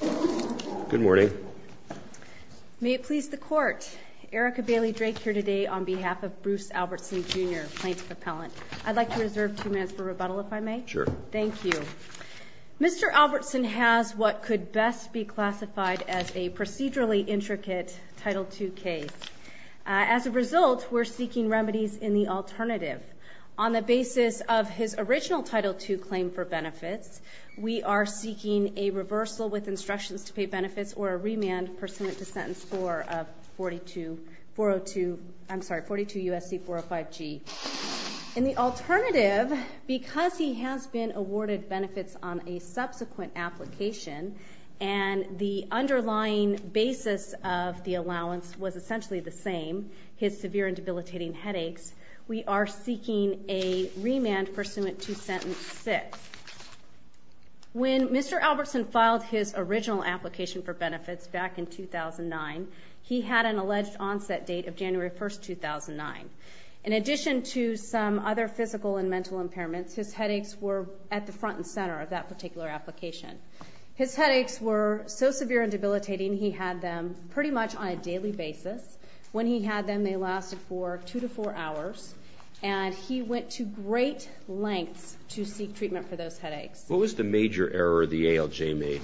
Good morning. May it please the Court, Erica Bailey Drake here today on behalf of Bruce Albertson, Jr., plaintiff appellant. I'd like to reserve two minutes for rebuttal if I may. Sure. Thank you. Mr. Albertson has what could best be classified as a procedurally intricate Title II case. As a result, we're seeking remedies in the alternative. When Mr. Albertson filed his original application for benefits back in 2009, he had an alleged onset date of January 1, 2009. In addition to some other physical and mental impairments, his headaches were at the front and center of that particular application. His headaches were so severe and debilitating, he had them pretty much on a daily basis. When he had them, they lasted for two to four hours. And he went to great lengths to seek treatment for those headaches. What was the major error the ALJ made?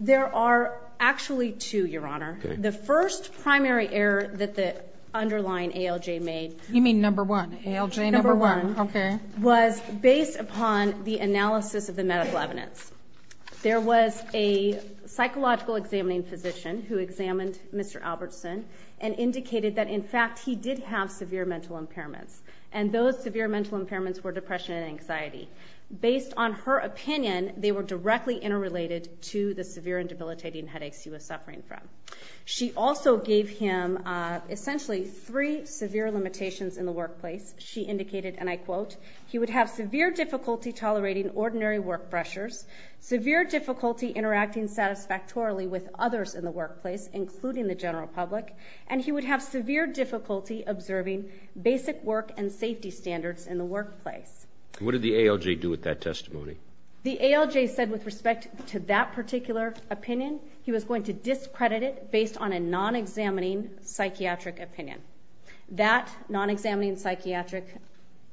There are actually two, Your Honor. The first primary error that the underlying ALJ made... You mean number one? ALJ number one? Okay. ...was based upon the analysis of the medical evidence. There was a psychological examining physician who examined Mr. Albertson and indicated that, in fact, he did have severe mental impairments. And those severe mental impairments were depression and anxiety. Based on her opinion, they were directly interrelated to the severe and debilitating headaches he was suffering from. She also gave him essentially three severe limitations in the workplace. She indicated, and I quote, And what did the ALJ do with that testimony? The ALJ said, with respect to that particular opinion, he was going to discredit it based on a non-examining psychiatric opinion. That non-examining psychiatric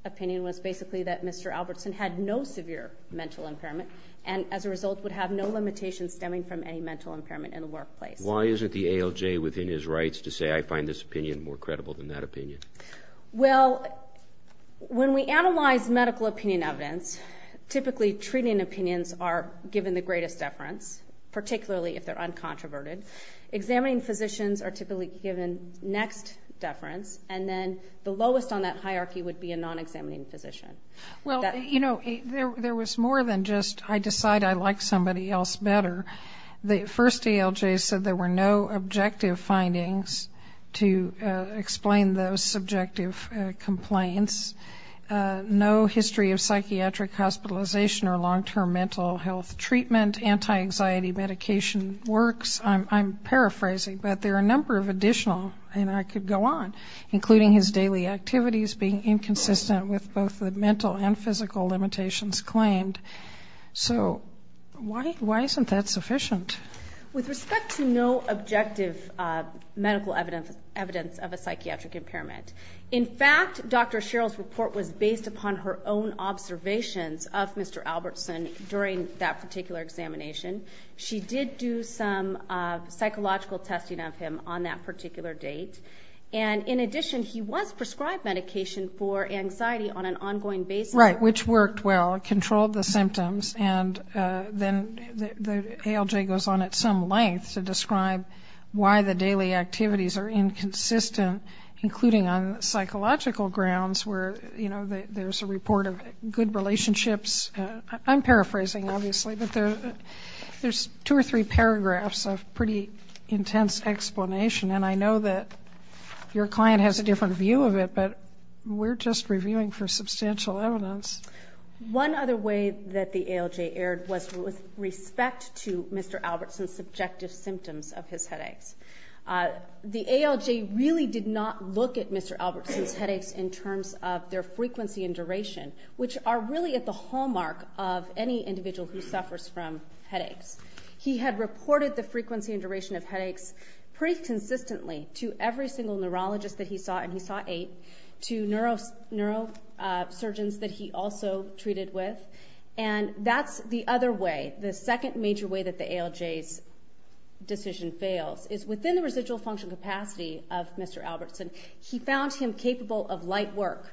opinion was basically that Mr. Albertson had no severe mental impairment and, as a result, would have no limitations stemming from any mental impairment in the workplace. Why isn't the ALJ within his rights to say, I find this opinion more credible than that opinion? Well, when we analyze medical opinion evidence, typically treating opinions are given the greatest deference, particularly if they're uncontroverted. Examining physicians are typically given next deference, and then the lowest on that hierarchy would be a non-examining physician. Well, you know, there was more than just I decide I like somebody else better. The first ALJ said there were no objective findings to explain those subjective complaints, no history of psychiatric hospitalization or long-term mental health treatment, anti-anxiety medication works. I'm paraphrasing, but there are a number of additional, and I could go on, including his daily activities being inconsistent with both the mental and physical limitations claimed. So why isn't that sufficient? With respect to no objective medical evidence of a psychiatric impairment, in fact, Dr. Sherrill's report was based upon her own observations of Mr. Albertson during that particular examination. She did do some psychological testing of him on that particular date, and in addition he was prescribed medication for anxiety on an ongoing basis. Right, which worked well, controlled the symptoms, and then the ALJ goes on at some length to describe why the daily activities are inconsistent, including on psychological grounds where, you know, there's a report of good relationships. I'm paraphrasing, obviously, but there's two or three paragraphs of pretty intense explanation, and I know that your client has a different view of it, but we're just reviewing for substantial evidence. One other way that the ALJ erred was with respect to Mr. Albertson's subjective symptoms of his headaches. The ALJ really did not look at Mr. Albertson's headaches in terms of their frequency and duration, which are really at the hallmark of any individual who suffers from headaches. He had reported the frequency and duration of headaches pretty consistently to every single neurologist that he saw, and he saw eight, to neurosurgeons that he also treated with, and that's the other way. The second major way that the ALJ's decision fails is within the residual function capacity of Mr. Albertson. He found him capable of light work.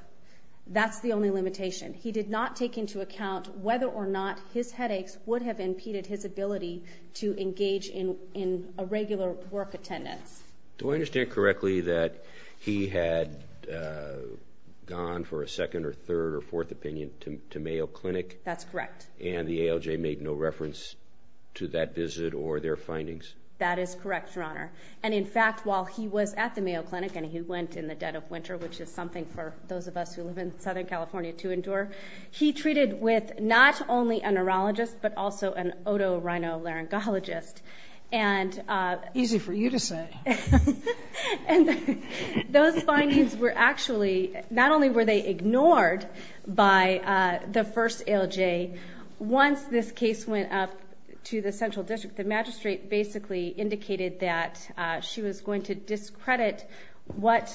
That's the only limitation. He did not take into account whether or not his headaches would have impeded his ability to engage in a regular work attendance. Do I understand correctly that he had gone for a second or third or fourth opinion to Mayo Clinic? That's correct. And the ALJ made no reference to that visit or their findings? That is correct, Your Honor. And, in fact, while he was at the Mayo Clinic and he went in the dead of winter, which is something for those of us who live in Southern California to endure, he treated with not only a neurologist but also an otorhinolaryngologist. Easy for you to say. And those findings were actually not only were they ignored by the first ALJ, once this case went up to the central district, the magistrate basically indicated that she was going to discredit what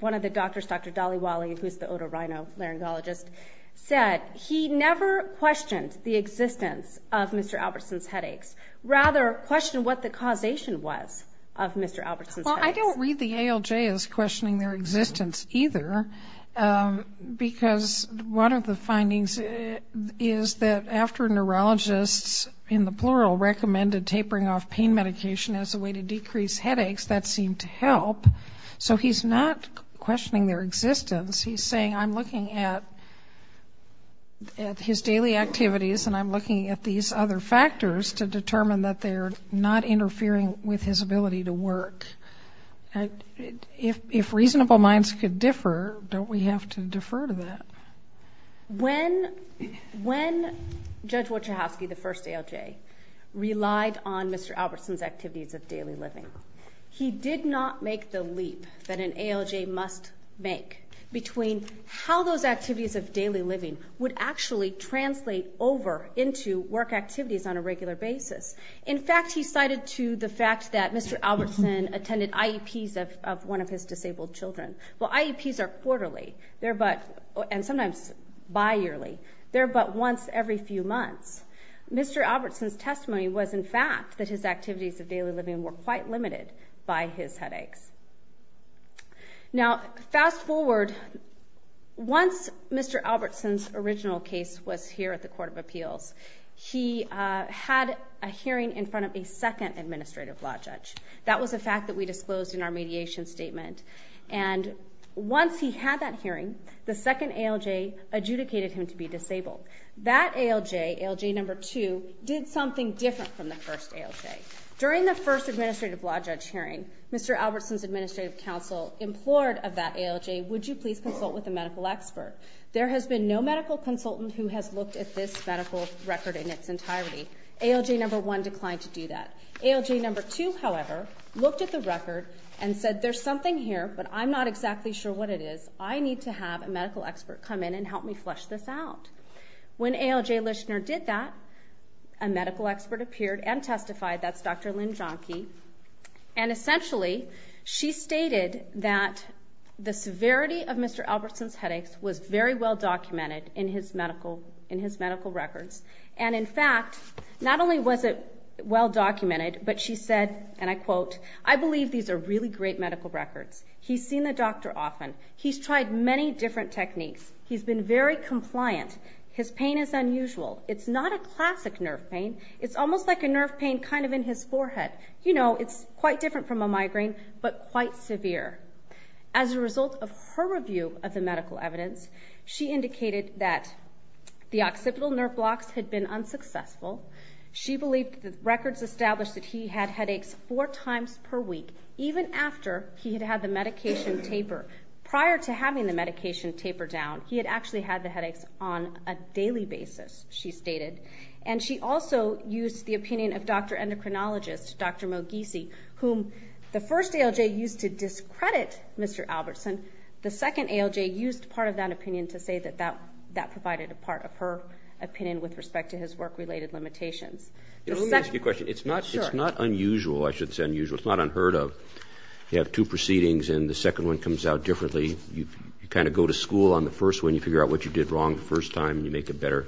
one of the doctors, Dr. Daliwale, who is the otorhinolaryngologist, said. He never questioned the existence of Mr. Albertson's headaches, rather questioned what the causation was of Mr. Albertson's headaches. Well, I don't read the ALJ as questioning their existence either, because one of the findings is that after neurologists, in the plural, recommended tapering off pain medication as a way to decrease headaches, that seemed to help. So he's not questioning their existence. He's saying I'm looking at his daily activities and I'm looking at these other factors to determine that they're not interfering with his ability to work. If reasonable minds could differ, don't we have to defer to that? When Judge Wojcicki, the first ALJ, relied on Mr. Albertson's activities of daily living, he did not make the leap that an ALJ must make between how those activities of daily living would actually translate over into work activities on a regular basis. In fact, he cited to the fact that Mr. Albertson attended IEPs of one of his disabled children. Well, IEPs are quarterly, and sometimes bi-yearly. They're but once every few months. Mr. Albertson's testimony was, in fact, that his activities of daily living were quite limited by his headaches. Now, fast forward. Once Mr. Albertson's original case was here at the Court of Appeals, he had a hearing in front of a second administrative law judge. That was a fact that we disclosed in our mediation statement. And once he had that hearing, the second ALJ adjudicated him to be disabled. That ALJ, ALJ number two, did something different from the first ALJ. During the first administrative law judge hearing, Mr. Albertson's administrative counsel implored of that ALJ, would you please consult with a medical expert? There has been no medical consultant who has looked at this medical record in its entirety. ALJ number one declined to do that. ALJ number two, however, looked at the record and said, there's something here, but I'm not exactly sure what it is. I need to have a medical expert come in and help me flesh this out. When ALJ Lischner did that, a medical expert appeared and testified. That's Dr. Lynn Jahnke. And essentially, she stated that the severity of Mr. Albertson's headaches was very well documented in his medical records. And in fact, not only was it well documented, but she said, and I quote, I believe these are really great medical records. He's seen the doctor often. He's tried many different techniques. He's been very compliant. His pain is unusual. It's not a classic nerve pain. It's almost like a nerve pain kind of in his forehead. You know, it's quite different from a migraine, but quite severe. As a result of her review of the medical evidence, she indicated that the occipital nerve blocks had been unsuccessful. She believed the records established that he had headaches four times per week, even after he had had the medication taper. Prior to having the medication taper down, he had actually had the headaches on a daily basis, she stated. And she also used the opinion of Dr. Endocrinologist, Dr. Moghisi, whom the first ALJ used to discredit Mr. Albertson. The second ALJ used part of that opinion to say that that provided a part of her opinion with respect to his work-related limitations. Let me ask you a question. It's not unusual. I should say unusual. It's not unheard of. You have two proceedings, and the second one comes out differently. You kind of go to school on the first one. You figure out what you did wrong the first time, and you make a better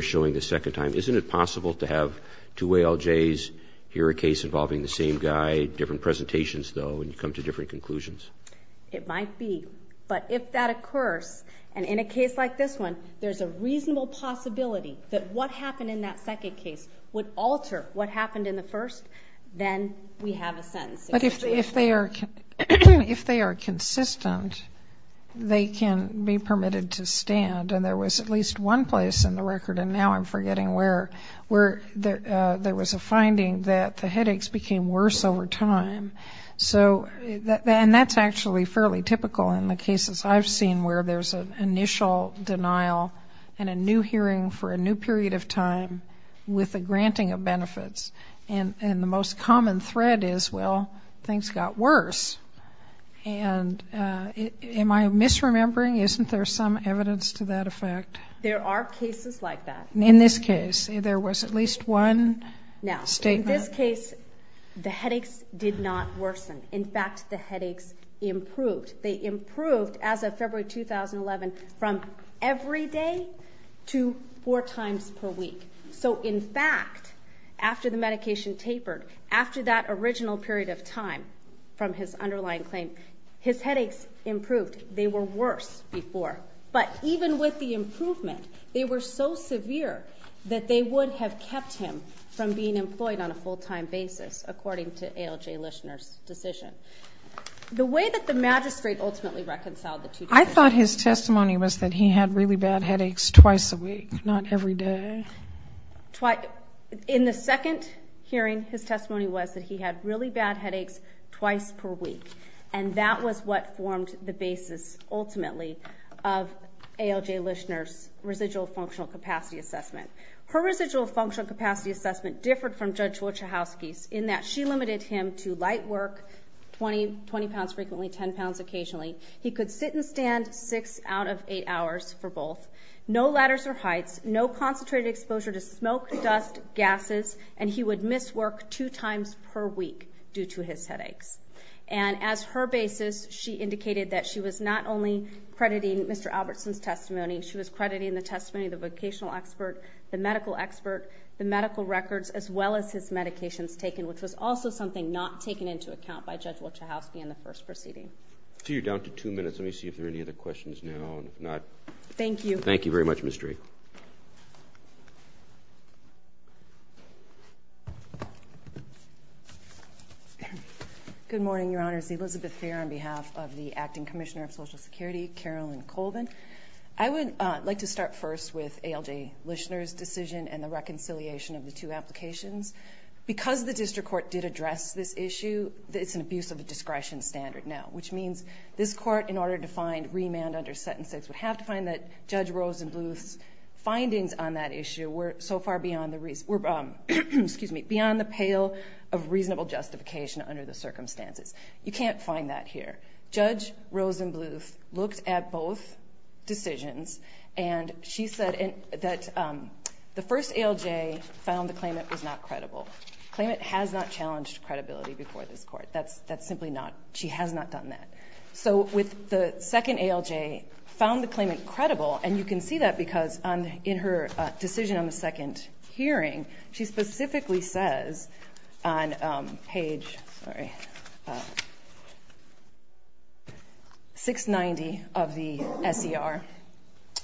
showing the second time. Isn't it possible to have two ALJs, hear a case involving the same guy, different presentations, though, and come to different conclusions? It might be. But if that occurs, and in a case like this one, there's a reasonable possibility that what happened in that second case would alter what happened in the first, then we have a sentencing situation. But if they are consistent, they can be permitted to stand. And there was at least one place in the record, and now I'm forgetting where, where there was a finding that the headaches became worse over time. And that's actually fairly typical in the cases I've seen where there's an initial denial and a new hearing for a new period of time with a granting of benefits. And the most common thread is, well, things got worse. And am I misremembering? Isn't there some evidence to that effect? There are cases like that. In this case, there was at least one statement. Now, in this case, the headaches did not worsen. In fact, the headaches improved. They improved as of February 2011 from every day to four times per week. So, in fact, after the medication tapered, after that original period of time from his underlying claim, his headaches improved. They were worse before. But even with the improvement, they were so severe that they would have kept him from being employed on a full-time basis, according to ALJ Lishner's decision. The way that the magistrate ultimately reconciled the two cases. I thought his testimony was that he had really bad headaches twice a week, not every day. In the second hearing, his testimony was that he had really bad headaches twice per week. And that was what formed the basis, ultimately, of ALJ Lishner's residual functional capacity assessment. Her residual functional capacity assessment differed from Judge Wojciechowski's in that she limited him to light work, 20 pounds frequently, 10 pounds occasionally. He could sit and stand six out of eight hours for both, no ladders or heights, no concentrated exposure to smoke, dust, gases, and he would miss work two times per week due to his headaches. And as her basis, she indicated that she was not only crediting Mr. Albertson's testimony, she was crediting the testimony of the vocational expert, the medical expert, the medical records, as well as his medications taken, which was also something not taken into account by Judge Wojciechowski in the first proceeding. So you're down to two minutes. Let me see if there are any other questions now and if not. Thank you. Thank you very much, Ms. Drake. Good morning, Your Honors. Elizabeth Fair on behalf of the Acting Commissioner of Social Security, Carolyn Colvin. I would like to start first with ALJ Lishner's decision and the reconciliation of the two applications. Because the district court did address this issue, it's an abuse of the discretion standard now, which means this court, in order to find remand under sentence six, would have to find that Judge Rosenbluth's findings on that issue were so far beyond the pale of reasonable justification under the circumstances. You can't find that here. Judge Rosenbluth looked at both decisions and she said that the first ALJ found the claimant was not credible. The claimant has not challenged credibility before this court. That's simply not. She has not done that. So with the second ALJ found the claimant credible, and you can see that because in her decision on the second hearing, she specifically says on page 690 of the SER,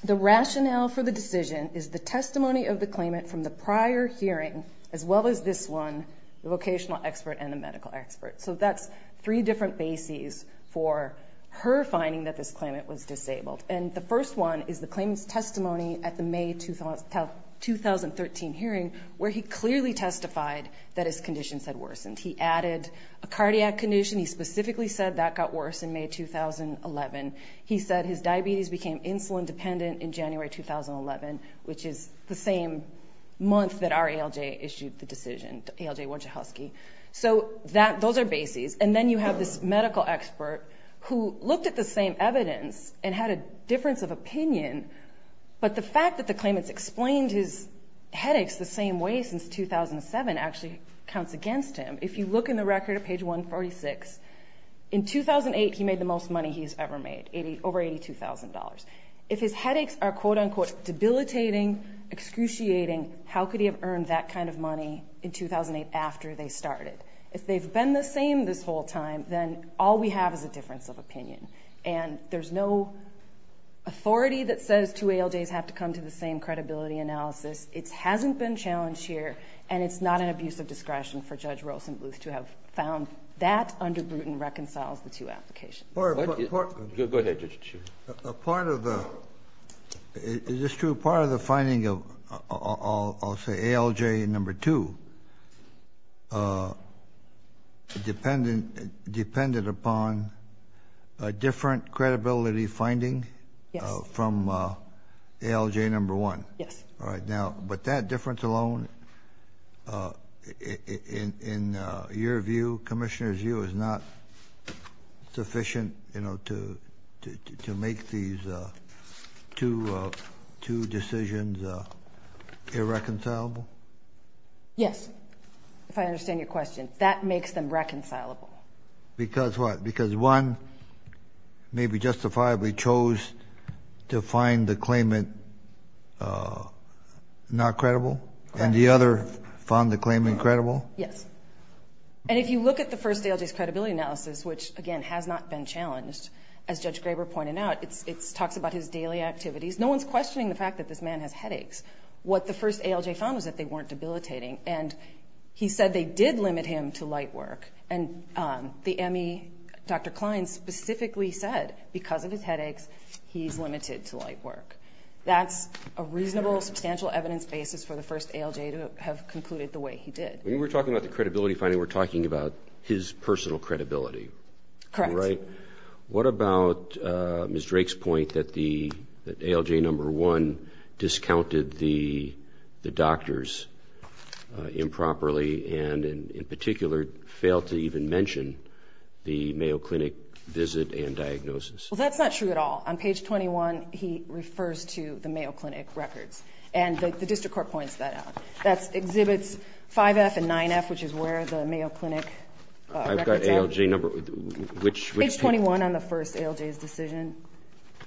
the rationale for the decision is the testimony of the claimant from the prior hearing, as well as this one, the vocational expert and the medical expert. So that's three different bases for her finding that this claimant was disabled. And the first one is the claimant's testimony at the May 2013 hearing, where he clearly testified that his conditions had worsened. He added a cardiac condition. He specifically said that got worse in May 2011. He said his diabetes became insulin dependent in January 2011, which is the same month that our ALJ issued the decision, ALJ Wachowski. So those are bases. And then you have this medical expert who looked at the same evidence and had a difference of opinion, but the fact that the claimant's explained his headaches the same way since 2007 actually counts against him. If you look in the record at page 146, in 2008 he made the most money he's ever made, over $82,000. If his headaches are, quote-unquote, debilitating, excruciating, how could he have earned that kind of money in 2008 after they started? If they've been the same this whole time, then all we have is a difference of opinion. And there's no authority that says two ALJs have to come to the same credibility analysis. It hasn't been challenged here, and it's not an abuse of discretion for Judge Rosenbluth to have found that under Bruton reconciles the two applications. Go ahead, Judge. Is this true? Part of the finding of, I'll say, ALJ number two depended upon a different credibility finding from ALJ number one. Yes. But that difference alone, in your view, Commissioner's view, is not sufficient to make these two decisions irreconcilable? Yes, if I understand your question. That makes them reconcilable. Because what? Because one maybe justifiably chose to find the claimant not credible, and the other found the claimant credible? Yes. And if you look at the first ALJ's credibility analysis, which, again, has not been challenged, as Judge Graber pointed out, it talks about his daily activities. No one's questioning the fact that this man has headaches. What the first ALJ found was that they weren't debilitating, and he said they did limit him to light work. And the ME, Dr. Klein, specifically said, because of his headaches, he's limited to light work. That's a reasonable, substantial evidence basis for the first ALJ to have concluded the way he did. When you were talking about the credibility finding, we're talking about his personal credibility. Correct. What about Ms. Drake's point that ALJ number one discounted the doctors improperly and, in particular, failed to even mention the Mayo Clinic visit and diagnosis? Well, that's not true at all. On page 21, he refers to the Mayo Clinic records, and the district court points that out. That exhibits 5F and 9F, which is where the Mayo Clinic records are. I've got ALJ number. Which page? Page 21 on the first ALJ's decision.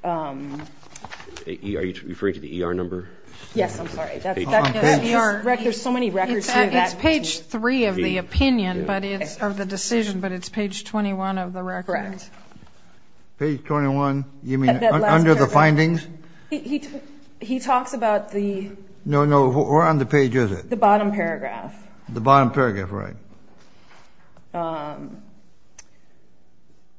Are you referring to the ER number? Yes. I'm sorry. There's so many records here. It's page three of the opinion of the decision, but it's page 21 of the record. Correct. Page 21? You mean under the findings? He talks about the ‑‑ No, no. Where on the page is it? The bottom paragraph. The bottom paragraph, right.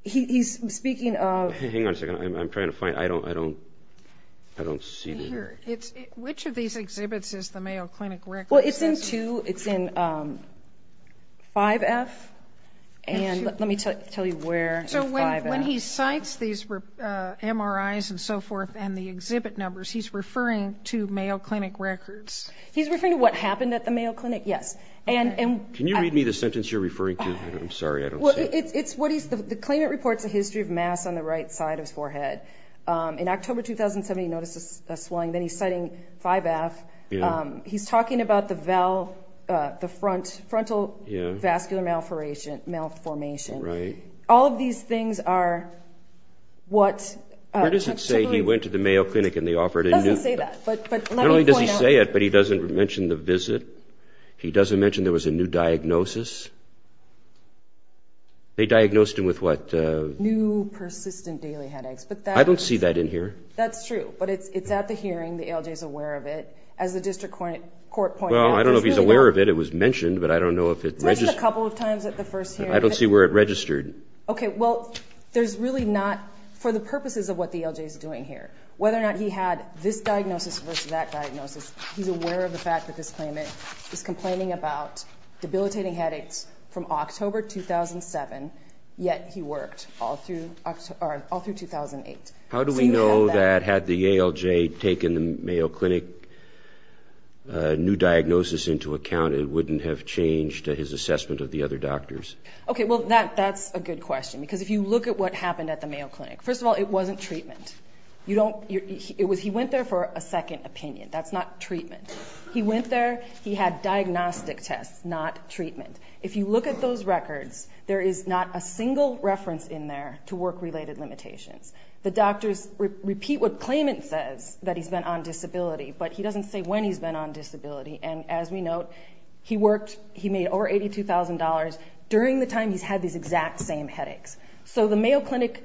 He's speaking of ‑‑ Hang on a second. I'm trying to find it. I don't see it. Which of these exhibits is the Mayo Clinic records? Well, it's in 2. It's in 5F. Let me tell you where in 5F. When he cites these MRIs and so forth and the exhibit numbers, he's referring to Mayo Clinic records? He's referring to what happened at the Mayo Clinic, yes. Can you read me the sentence you're referring to? I'm sorry. I don't see it. The claimant reports a history of mass on the right side of his forehead. In October 2007, he noticed a swelling. Then he's citing 5F. He's talking about the frontal vascular malformation. Right. All of these things are what ‑‑ Where does it say he went to the Mayo Clinic and they offered a new ‑‑ It doesn't say that. Let me point out. Not only does he say it, but he doesn't mention the visit. He doesn't mention there was a new diagnosis. They diagnosed him with what? New persistent daily headaches. I don't see that in here. That's true. But it's at the hearing. The ALJ is aware of it. As the district court pointed out, there's really no ‑‑ Well, I don't know if he's aware of it. It was mentioned, but I don't know if it ‑‑ It was mentioned a couple of times at the first hearing. I don't see where it registered. Okay. Well, there's really not ‑‑ For the purposes of what the ALJ is doing here, whether or not he had this diagnosis versus that diagnosis, he's aware of the fact that this claimant is complaining about debilitating headaches from October 2007, yet he worked all through 2008. How do we know that had the ALJ taken the Mayo Clinic new diagnosis into account, it wouldn't have changed his assessment of the other doctors? Okay. Well, that's a good question. Because if you look at what happened at the Mayo Clinic, first of all, it wasn't treatment. He went there for a second opinion. That's not treatment. He went there. He had diagnostic tests, not treatment. If you look at those records, there is not a single reference in there to work‑related limitations. The doctors repeat what claimant says, that he's been on disability, but he doesn't say when he's been on disability. And as we note, he worked, he made over $82,000 during the time he's had these exact same headaches. So the Mayo Clinic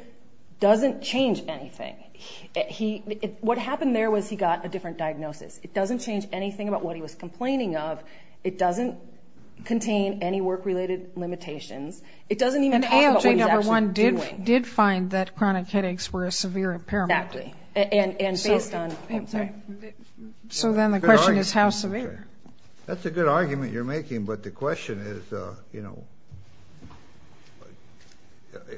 doesn't change anything. What happened there was he got a different diagnosis. It doesn't change anything about what he was complaining of. It doesn't contain any work‑related limitations. It doesn't even talk about what he's actually doing. An ALJ, number one, did find that chronic headaches were a severe impairment. Exactly. And based on ‑‑ oh, I'm sorry. So then the question is how severe? That's a good argument you're making, but the question is, you know,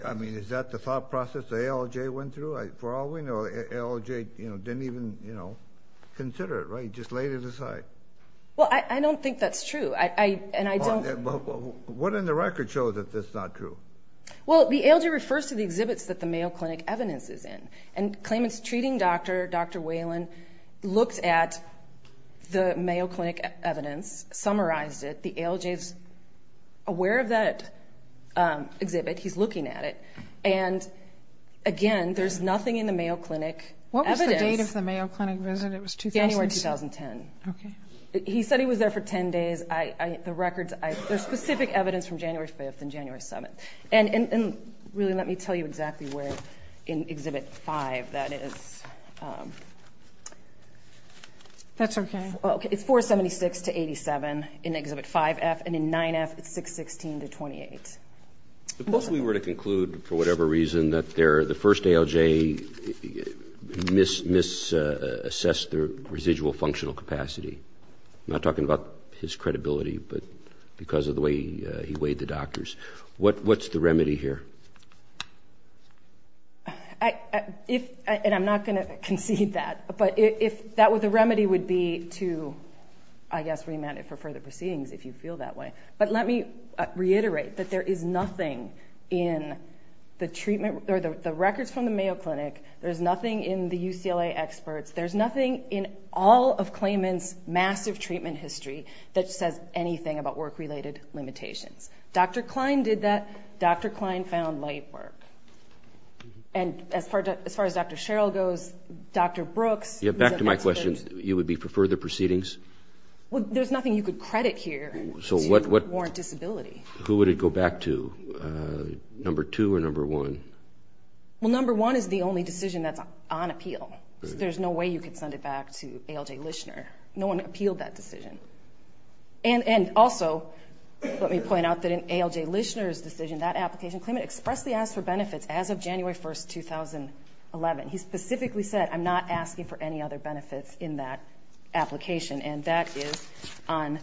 I mean, is that the thought process the ALJ went through? For all we know, ALJ didn't even, you know, consider it, right? Just laid it aside. Well, I don't think that's true, and I don't ‑‑ What in the record shows that that's not true? Well, the ALJ refers to the exhibits that the Mayo Clinic evidence is in, and claimants treating Dr. Whalen looked at the Mayo Clinic evidence, summarized it. The ALJ is aware of that exhibit. He's looking at it. And, again, there's nothing in the Mayo Clinic evidence. What was the date of the Mayo Clinic visit? It was 2006? January 2010. Okay. He said he was there for 10 days. The records ‑‑ there's specific evidence from January 5th and January 7th. And, really, let me tell you exactly where in Exhibit 5 that is. That's okay. It's 476 to 87 in Exhibit 5F, and in 9F, it's 616 to 28. Supposedly we were to conclude, for whatever reason, that the first ALJ misassessed the residual functional capacity. I'm not talking about his credibility, but because of the way he weighed the doctors. What's the remedy here? And I'm not going to concede that. But the remedy would be to, I guess, remand it for further proceedings, if you feel that way. But let me reiterate that there is nothing in the records from the Mayo Clinic, there's nothing in the UCLA experts, there's nothing in all of claimants' massive treatment history that says anything about work‑related limitations. Dr. Klein did that. Dr. Klein found light work. And as far as Dr. Sherrill goes, Dr. Brooks ‑‑ Yeah, back to my question. You would be for further proceedings? Well, there's nothing you could credit here to warrant disability. Who would it go back to, number two or number one? Well, number one is the only decision that's on appeal. There's no way you could send it back to ALJ Lischner. No one appealed that decision. And also, let me point out that in ALJ Lischner's decision, that application, claimant expressed the ask for benefits as of January 1, 2011. He specifically said, I'm not asking for any other benefits in that application. And that is on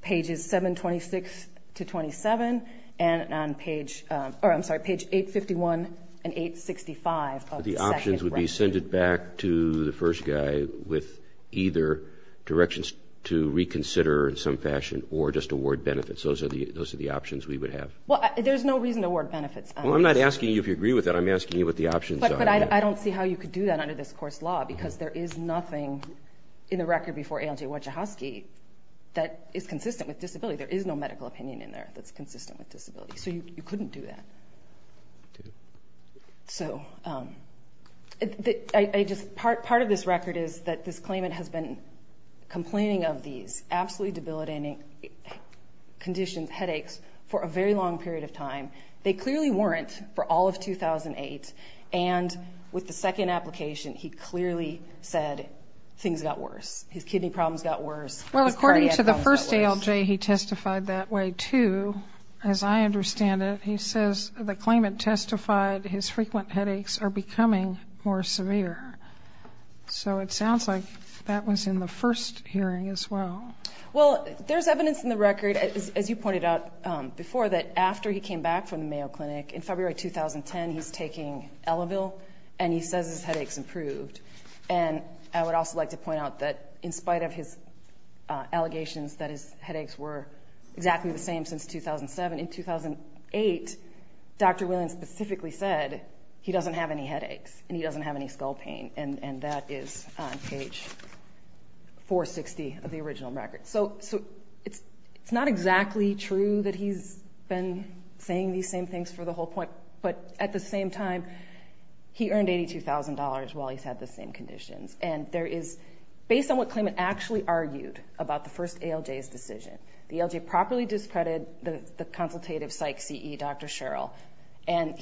pages 726 to 27 and on page ‑‑ or I'm sorry, page 851 and 865 of the second writing. It would be sent back to the first guy with either directions to reconsider in some fashion or just award benefits. Those are the options we would have. Well, there's no reason to award benefits. Well, I'm not asking you if you agree with that. I'm asking you what the options are. But I don't see how you could do that under this course law because there is nothing in the record before ALJ Wachowski that is consistent with disability. There is no medical opinion in there that's consistent with disability. So you couldn't do that. So part of this record is that this claimant has been complaining of these absolutely debilitating conditions, headaches, for a very long period of time. They clearly weren't for all of 2008. And with the second application, he clearly said things got worse. His kidney problems got worse. Well, according to the first ALJ, he testified that way too, as I understand it. He says the claimant testified his frequent headaches are becoming more severe. So it sounds like that was in the first hearing as well. Well, there's evidence in the record, as you pointed out before, that after he came back from the Mayo Clinic in February 2010, he's taking Elevil, and he says his headaches improved. And I would also like to point out that in spite of his allegations that his headaches were exactly the same since 2007, in 2008, Dr. Williams specifically said he doesn't have any headaches and he doesn't have any skull pain, and that is on page 460 of the original record. So it's not exactly true that he's been saying these same things for the whole point, but at the same time, he earned $82,000 while he's had the same conditions. And there is, based on what claimant actually argued about the first ALJ's decision, the ALJ properly discredited the consultative psych CE, Dr. Sherrill, and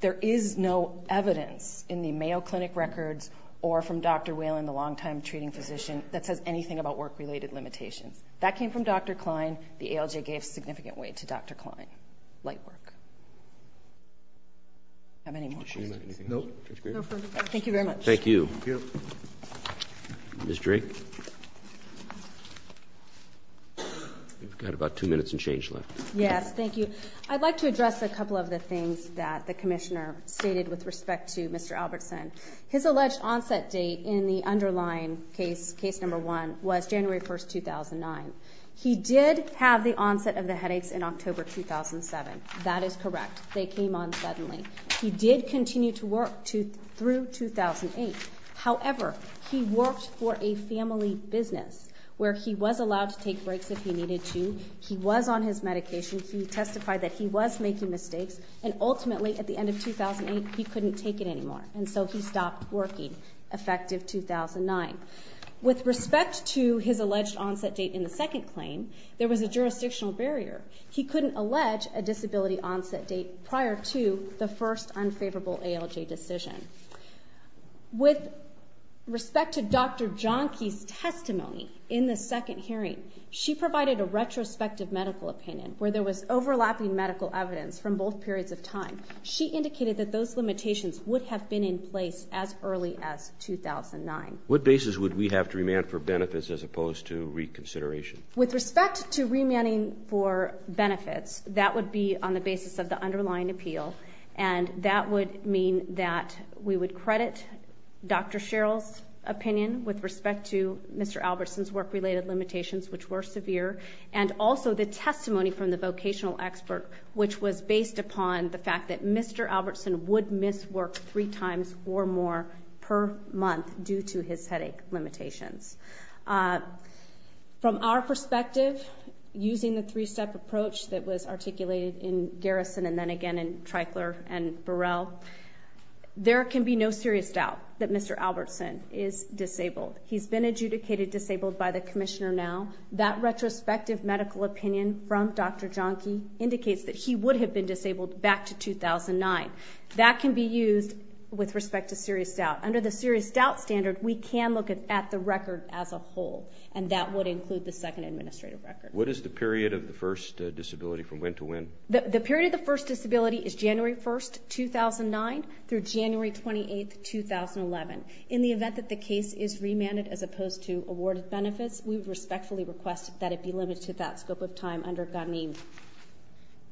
there is no evidence in the Mayo Clinic records or from Dr. Whalen, the longtime treating physician, that says anything about work-related limitations. That came from Dr. Klein. The ALJ gave significant weight to Dr. Klein. Light work. Do you have any more questions? No. No further questions. Thank you very much. Thank you. Ms. Drake? We've got about two minutes and change left. Yes, thank you. I'd like to address a couple of the things that the commissioner stated with respect to Mr. Albertson. His alleged onset date in the underlying case, case number 1, was January 1, 2009. He did have the onset of the headaches in October 2007. That is correct. They came on suddenly. He did continue to work through 2008. However, he worked for a family business where he was allowed to take breaks if he needed to. He was on his medication. He testified that he was making mistakes, and ultimately, at the end of 2008, he couldn't take it anymore, and so he stopped working, effective 2009. With respect to his alleged onset date in the second claim, there was a jurisdictional barrier. He couldn't allege a disability onset date prior to the first unfavorable ALJ decision. With respect to Dr. Johnkey's testimony in the second hearing, she provided a retrospective medical opinion where there was overlapping medical evidence from both periods of time. She indicated that those limitations would have been in place as early as 2009. What basis would we have to remand for benefits as opposed to reconsideration? With respect to remanding for benefits, that would be on the basis of the underlying appeal, and that would mean that we would credit Dr. Sherrill's opinion with respect to Mr. Albertson's work-related limitations, which were severe, and also the testimony from the vocational expert, which was based upon the fact that Mr. Albertson would miss work three times or more per month due to his headache limitations. From our perspective, using the three-step approach that was articulated in Garrison and then again in Treichler and Burrell, there can be no serious doubt that Mr. Albertson is disabled. He's been adjudicated disabled by the commissioner now. That retrospective medical opinion from Dr. Johnkey indicates that he would have been disabled back to 2009. That can be used with respect to serious doubt. Under the serious doubt standard, we can look at the record as a whole, and that would include the second administrative record. What is the period of the first disability from when to when? The period of the first disability is January 1, 2009, through January 28, 2011. In the event that the case is remanded as opposed to awarded benefits, we would respectfully request that it be limited to that scope of time undergone.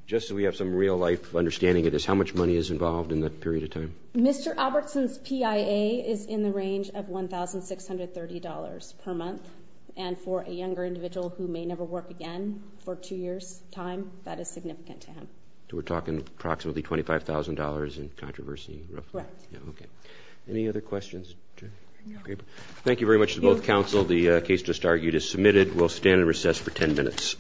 Just so we have some real-life understanding of this, how much money is involved in that period of time? Mr. Albertson's PIA is in the range of $1,630 per month, and for a younger individual who may never work again for two years' time, that is significant to him. So we're talking approximately $25,000 in controversy? Correct. Okay. Any other questions? Thank you very much to both counsel. The case just argued is submitted. We'll stand and recess for 10 minutes.